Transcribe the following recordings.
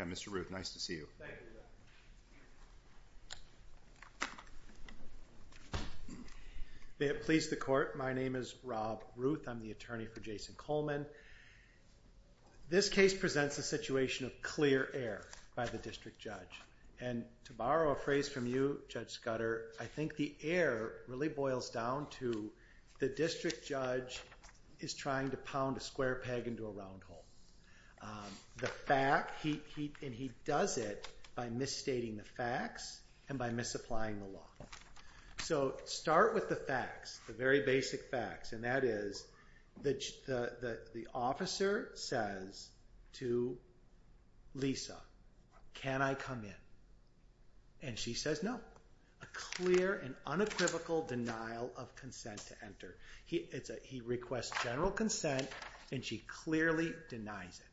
Mr. Ruth, nice to see you. Please the court. My name is Rob Ruth. I'm the attorney for Jaison Coleman. This case presents a situation of clear air by the district judge. And to borrow a phrase from you, Judge Scudder, I think the air really boils down to the district judge is trying to pound a square peg into a round hole. The fact, and he does it by misstating the facts and by misapplying the law. So start with the facts, the very basic facts. And that is the officer says to Lisa, can I come in? And she says no. A clear and unequivocal denial of consent to enter. He requests general consent and she clearly denies it.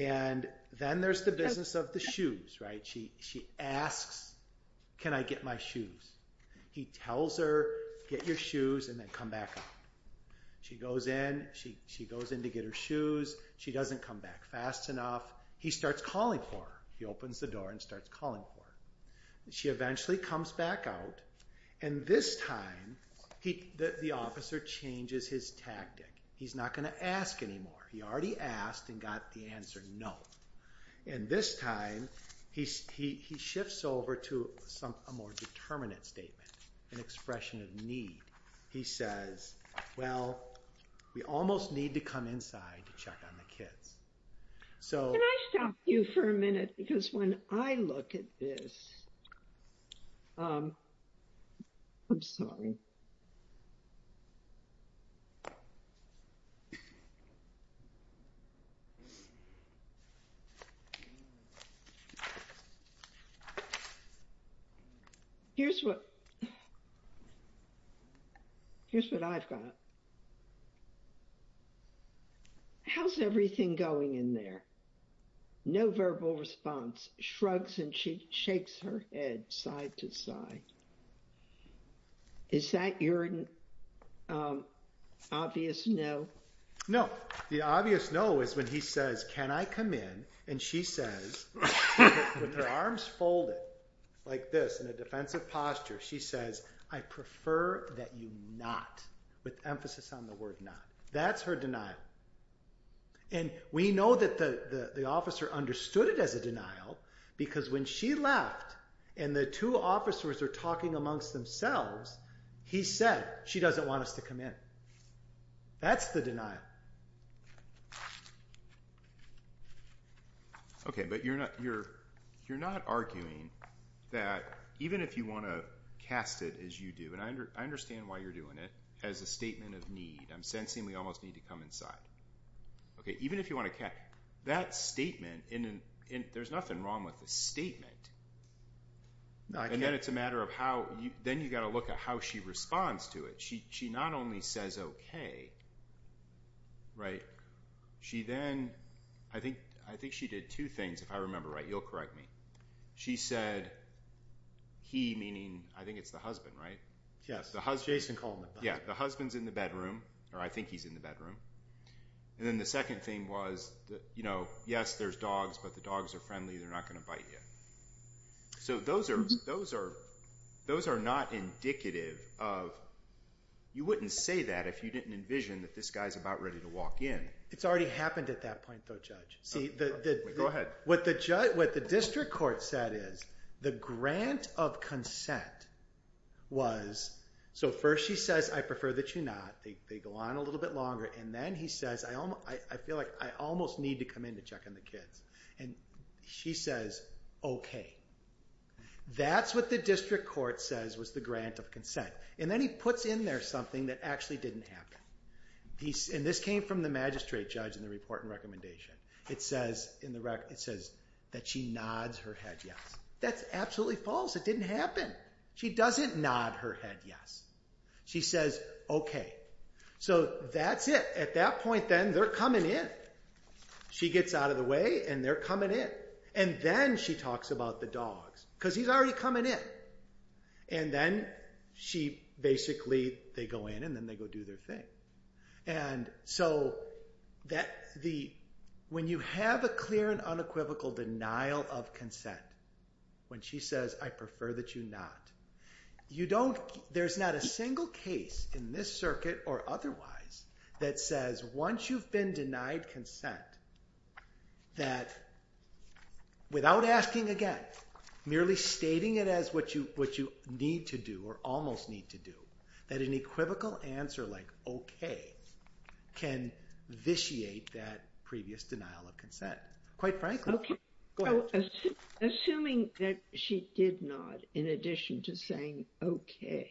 And then there's the business of the shoes, right? She asks, can I get my shoes? He tells her, get your shoes and then come back up. She goes in, she goes in to get her shoes. She doesn't come back fast enough. He starts calling for her. He opens the door and starts calling for her. She eventually comes back out. And this time, the officer changes his tactic. He's not going to ask anymore. He already asked and got the answer, no. And this time, he shifts over to a more determinate statement, an expression of need. He says, well, we almost need to come inside to check on the kids. Can I stop you for a minute? Because when I look at this, I'm sorry. Here's what I've got. How's everything going in there? No verbal response. Shrugs and shakes her head side to side. Is that your obvious no? No. The obvious no is when he says, can I come in? And she says, with her arms folded like this in a defensive posture, she says, I prefer that you not. With emphasis on the word not. That's her denial. And we know that the officer understood it as a denial because when she left and the two officers are talking amongst themselves, he said, she doesn't want us to come in. That's the denial. Okay, but you're not arguing that even if you want to cast it as you do, and I understand why you're doing it, as a statement of need. I'm sensing we almost need to come inside. Okay, even if you want to cast, that statement, and there's nothing wrong with a statement. And then it's a matter of how, then you've got to look at how she responds to it. She not only says okay, right? She then, I think she did two things, if I remember right. You'll correct me. She said, he meaning, I think it's the husband, right? Yes, Jason Coleman. Yeah, the husband's in the bedroom, or I think he's in the bedroom. And then the second thing was, you know, yes, there's dogs, but the dogs are friendly. They're not going to bite you. So those are not indicative of, you wouldn't say that if you didn't envision that this guy's about ready to walk in. It's already happened at that point, though, Judge. Go ahead. What the district court said is, the grant of consent was, so first she says, I prefer that you not. They go on a little bit longer, and then he says, I feel like I almost need to come in to check on the kids. And she says, okay. That's what the district court says was the grant of consent. And then he puts in there something that actually didn't happen. And this came from the magistrate, Judge, in the report and recommendation. It says that she nods her head yes. That's absolutely false. It didn't happen. She doesn't nod her head yes. She says, okay. So that's it. At that point, then, they're coming in. She gets out of the way, and they're coming in. And then she talks about the dogs, because he's already coming in. And then she basically, they go in, and then they go do their thing. And so when you have a clear and unequivocal denial of consent, when she says, I prefer that you not, there's not a single case in this circuit or otherwise that says once you've been denied consent, that without asking again, merely stating it as what you need to do or almost need to do, that an equivocal answer like okay can vitiate that previous denial of consent, quite frankly. Go ahead. So assuming that she did nod in addition to saying okay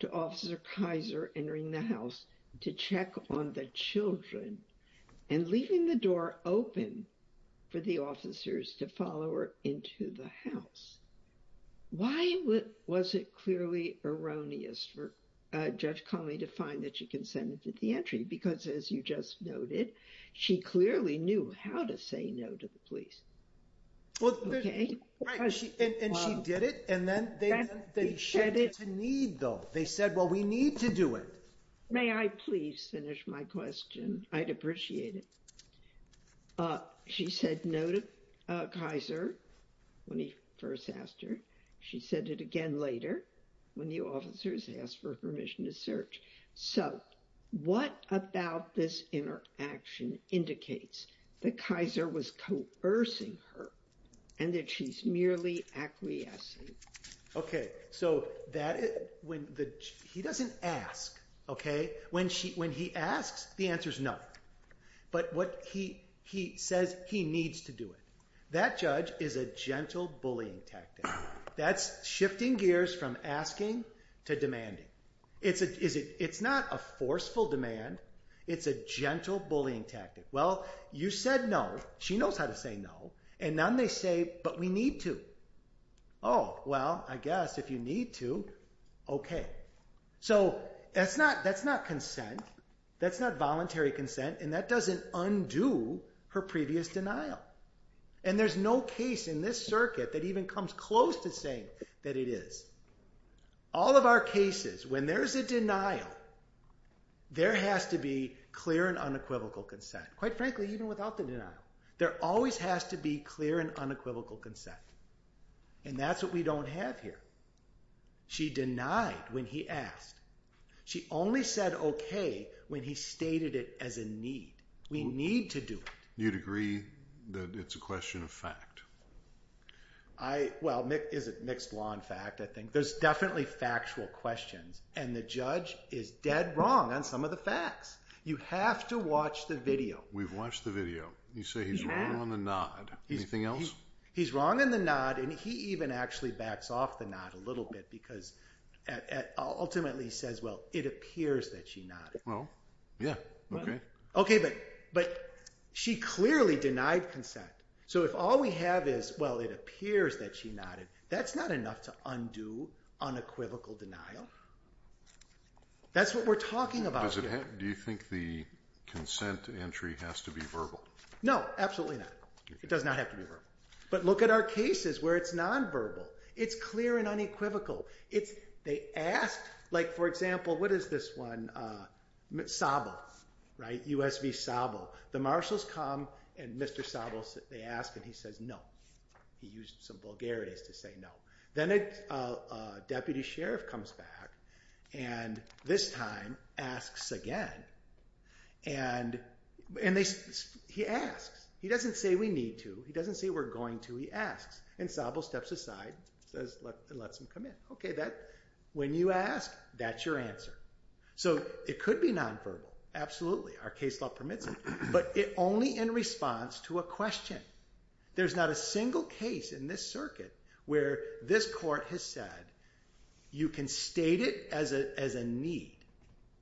to Officer Kaiser entering the house to check on the children and leaving the door open for the officers to follow her into the house, why was it clearly erroneous for Judge Conley to find that she consented to the entry? Because as you just noted, she clearly knew how to say no to the police. And she did it. And then they said it's a need, though. They said, well, we need to do it. May I please finish my question? I'd appreciate it. She said no to Kaiser when he first asked her. She said it again later when the officers asked for permission to search. So what about this interaction indicates that Kaiser was coercing her and that she's merely acquiescing? Okay. So he doesn't ask, okay? When he asks, the answer is no. But what he says he needs to do it. That, Judge, is a gentle bullying tactic. That's shifting gears from asking to demanding. It's not a forceful demand. It's a gentle bullying tactic. Well, you said no. She knows how to say no. And then they say, but we need to. Oh, well, I guess if you need to, okay. So that's not consent. That's not voluntary consent. And that doesn't undo her previous denial. And there's no case in this circuit that even comes close to saying that it is. All of our cases, when there's a denial, there has to be clear and unequivocal consent. Quite frankly, even without the denial, there always has to be clear and unequivocal consent. And that's what we don't have here. She denied when he asked. She only said okay when he stated it as a need. We need to do it. You'd agree that it's a question of fact? Well, is it mixed law and fact? I think there's definitely factual questions. And the judge is dead wrong on some of the facts. You have to watch the video. We've watched the video. You say he's wrong on the nod. Anything else? He's wrong on the nod. And he even actually backs off the nod a little bit because ultimately he says, well, it appears that she nodded. Well, yeah, okay. Okay, but she clearly denied consent. So if all we have is, well, it appears that she nodded, that's not enough to undo unequivocal denial. That's what we're talking about here. Do you think the consent entry has to be verbal? No, absolutely not. It does not have to be verbal. But look at our cases where it's nonverbal. It's clear and unequivocal. They ask, like, for example, what is this one? Sabo, right? US v. Sabo. The marshals come and Mr. Sabo, they ask and he says no. He used some vulgarities to say no. Then a deputy sheriff comes back and this time asks again. And he asks. He doesn't say we need to. He doesn't say we're going to. He asks. And Sabo steps aside and lets him come in. Okay, when you ask, that's your answer. So it could be nonverbal. Absolutely. Our case law permits it. But only in response to a question. There's not a single case in this circuit where this court has said, you can state it as a need,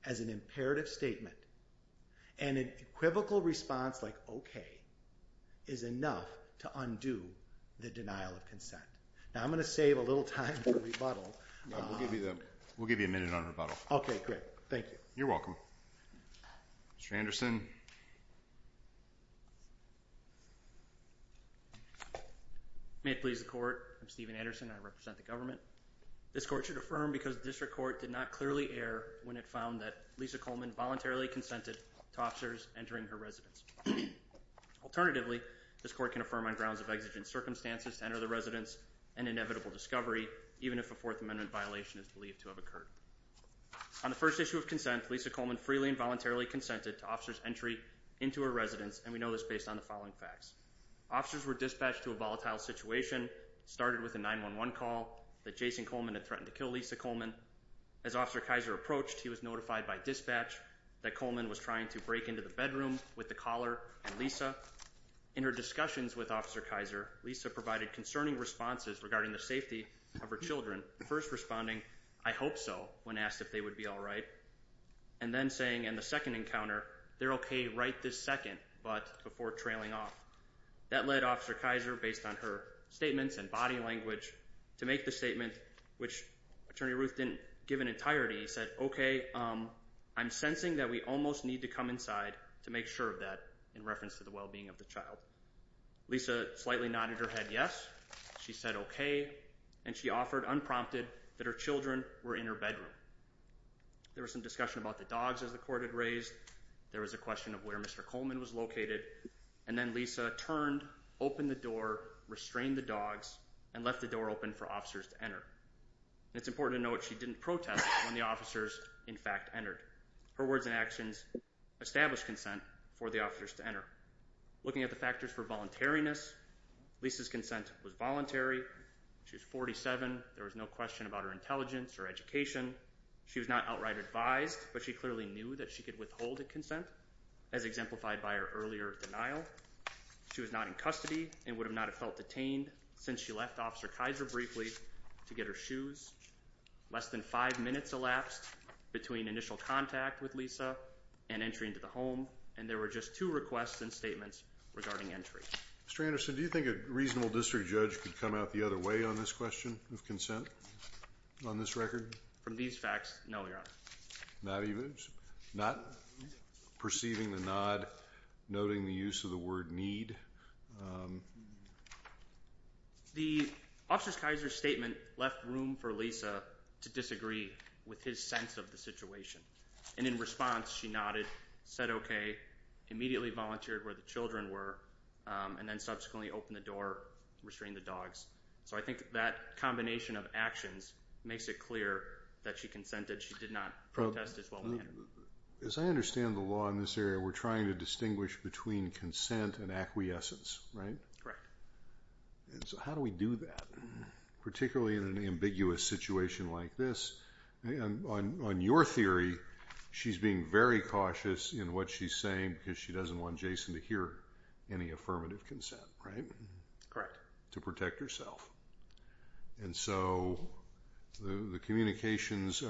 as an imperative statement. And an equivocal response like okay is enough to undo the denial of consent. Now, I'm going to save a little time for rebuttal. We'll give you a minute on rebuttal. Okay, great. Thank you. You're welcome. May it please the court. I'm Steven Anderson and I represent the government. This court should affirm because the district court did not clearly err when it found that Lisa Coleman voluntarily consented to officers entering her residence. Alternatively, this court can affirm on grounds of exigent circumstances to enter the residence and inevitable discovery, even if a Fourth Amendment violation is believed to have occurred. On the first issue of consent, Lisa Coleman freely and voluntarily consented to officers' entry into her residence. And we know this based on the following facts. Officers were dispatched to a volatile situation, started with a 911 call that Jason Coleman had threatened to kill Lisa Coleman. As Officer Kaiser approached, he was notified by dispatch that Coleman was trying to break into the bedroom with the caller and Lisa. In her discussions with Officer Kaiser, Lisa provided concerning responses regarding the safety of her children. First responding, I hope so, when asked if they would be all right. And then saying in the second encounter, they're okay right this second, but before trailing off. That led Officer Kaiser, based on her statements and body language, to make the statement, which Attorney Ruth didn't give in entirety. He said, okay, I'm sensing that we almost need to come inside to make sure of that in reference to the wellbeing of the child. Lisa slightly nodded her head, yes. She said, okay. And she offered, unprompted, that her children were in her bedroom. There was some discussion about the dogs as the court had raised. There was a question of where Mr. Coleman was located. And then Lisa turned, opened the door, restrained the dogs and left the door open for officers to enter. And it's important to note, she didn't protest when the officers in fact entered. Her words and actions established consent for the officers to enter. Looking at the factors for voluntariness, Lisa's consent was voluntary. She was 47. There was no question about her intelligence or education. She was not outright advised, but she clearly knew that she could withhold a consent as exemplified by her earlier denial. She was not in custody and would have not have felt detained since she left Officer Kaiser briefly to get her shoes. Less than five minutes elapsed between initial contact with Lisa and entry into the home. And there were just two requests and statements regarding entry. Mr. Anderson, do you think a reasonable district judge could come out the other way on this question of consent on this record? From these facts? No, Your Honor. Not perceiving the nod, noting the use of the word need. The Officer's Kaiser statement left room for Lisa to disagree with his sense of the situation. And in response, she nodded, said, okay, immediately volunteered where the children were. And then subsequently opened the door, restrained the dogs. So I think that combination of actions makes it clear that she consented. She did not protest as well. As I understand the law in this area, we're trying to distinguish between consent and acquiescence, right? Correct. And so how do we do that? Particularly in an ambiguous situation like this. On your theory, she's being very cautious in what she's saying because she doesn't want any affirmative consent, right? Correct. To protect herself. And so the communications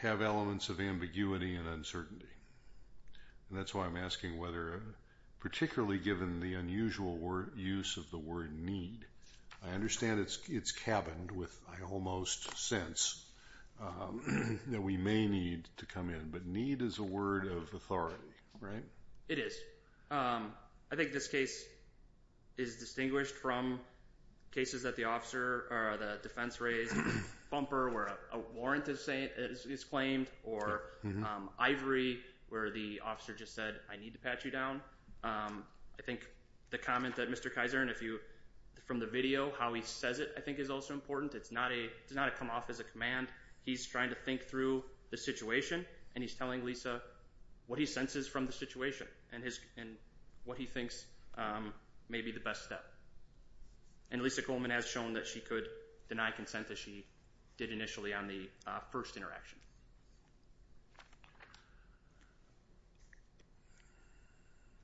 have elements of ambiguity and uncertainty. And that's why I'm asking whether, particularly given the unusual use of the word need, I understand it's cabined with, I almost sense, that we may need to come in. But need is a word of authority, right? It is. I think this case is distinguished from cases that the officer or the defense raised, bumper where a warrant is claimed, or ivory where the officer just said, I need to pat you down. I think the comment that Mr. Kizer, and if you, from the video, how he says it, I think is also important. It's not a come off as a command. He's trying to think through the situation and he's telling Lisa what he thinks may be the best step. And Lisa Coleman has shown that she could deny consent as she did initially on the first interaction.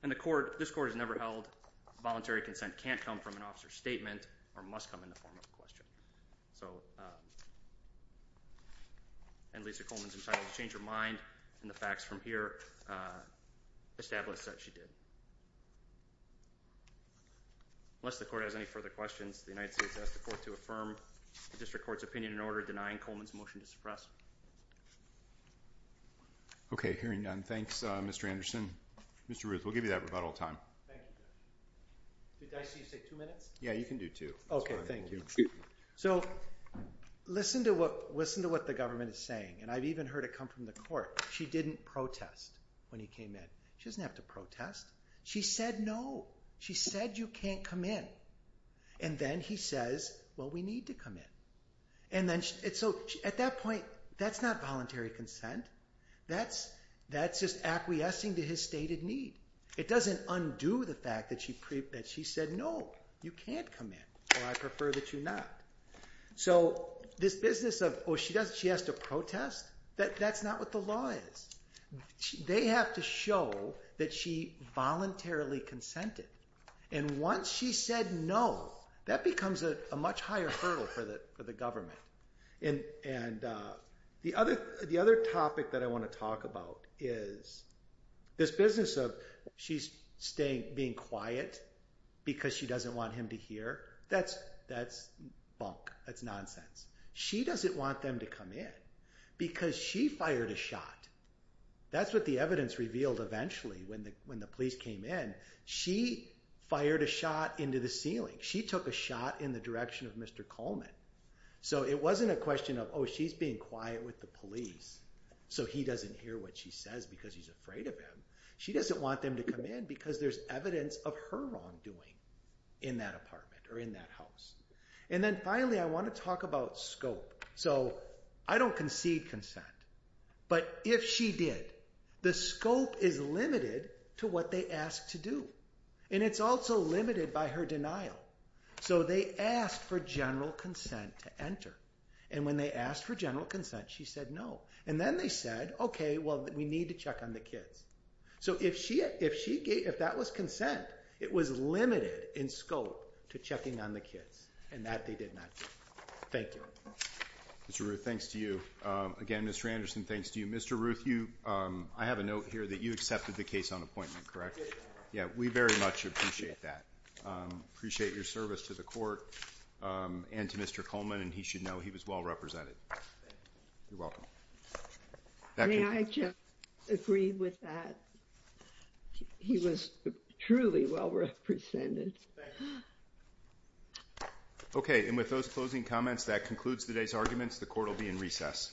And this court has never held voluntary consent can't come from an officer's statement or must come in the form of a question. And Lisa Coleman's entitled to change her mind. And the facts from here establish that she did. Unless the court has any further questions, the United States has the court to affirm the district court's opinion in order of denying Coleman's motion to suppress. Okay. Hearing none. Thanks, Mr. Anderson. Mr. Ruth, we'll give you that rebuttal time. Did I see you say two minutes? Yeah, you can do two. Okay. Thank you. So listen to what, listen to what the government is saying. And I've even heard it come from the court. She didn't protest when he came in. She doesn't have to protest. She said no. She said you can't come in. And then he says, well, we need to come in. And so at that point, that's not voluntary consent. That's just acquiescing to his stated need. It doesn't undo the fact that she said no, you can't come in. Or I prefer that you not. So this business of, oh, she has to protest? That's not what the law is. They have to show that she voluntarily consented. And once she said no, that becomes a much higher hurdle for the government. And the other topic that I want to talk about is this business of she's being quiet because she doesn't want him to hear. That's bunk. That's nonsense. She doesn't want them to come in because she fired a shot. That's what the evidence revealed eventually when the police came in. She fired a shot into the ceiling. She took a shot in the direction of Mr. Coleman. So it wasn't a question of, oh, she's being quiet with the police so he doesn't hear what she says because he's afraid of him. She doesn't want them to come in because there's evidence of her wrongdoing in that apartment or in that house. And then finally I want to talk about scope. So I don't concede consent. But if she did, the scope is limited to what they asked to do. And it's also limited by her denial. So they asked for general consent to enter. And when they asked for general consent, she said no. And then they said, okay, well, we need to check on the kids. So if that was consent, it was limited in scope to checking on the kids. And that they did not do. Thank you. Mr. Ruth, thanks to you. Again, Mr. Anderson, thanks to you. Mr. Ruth, I have a note here that you accepted the case on appointment, correct? Yeah, we very much appreciate that. Appreciate your service to the court and to Mr. Coleman. And he should know he was well represented. Thank you. You're welcome. May I just agree with that? He was truly well represented. Okay. And with those closing comments, that concludes today's arguments. The court will be in recess.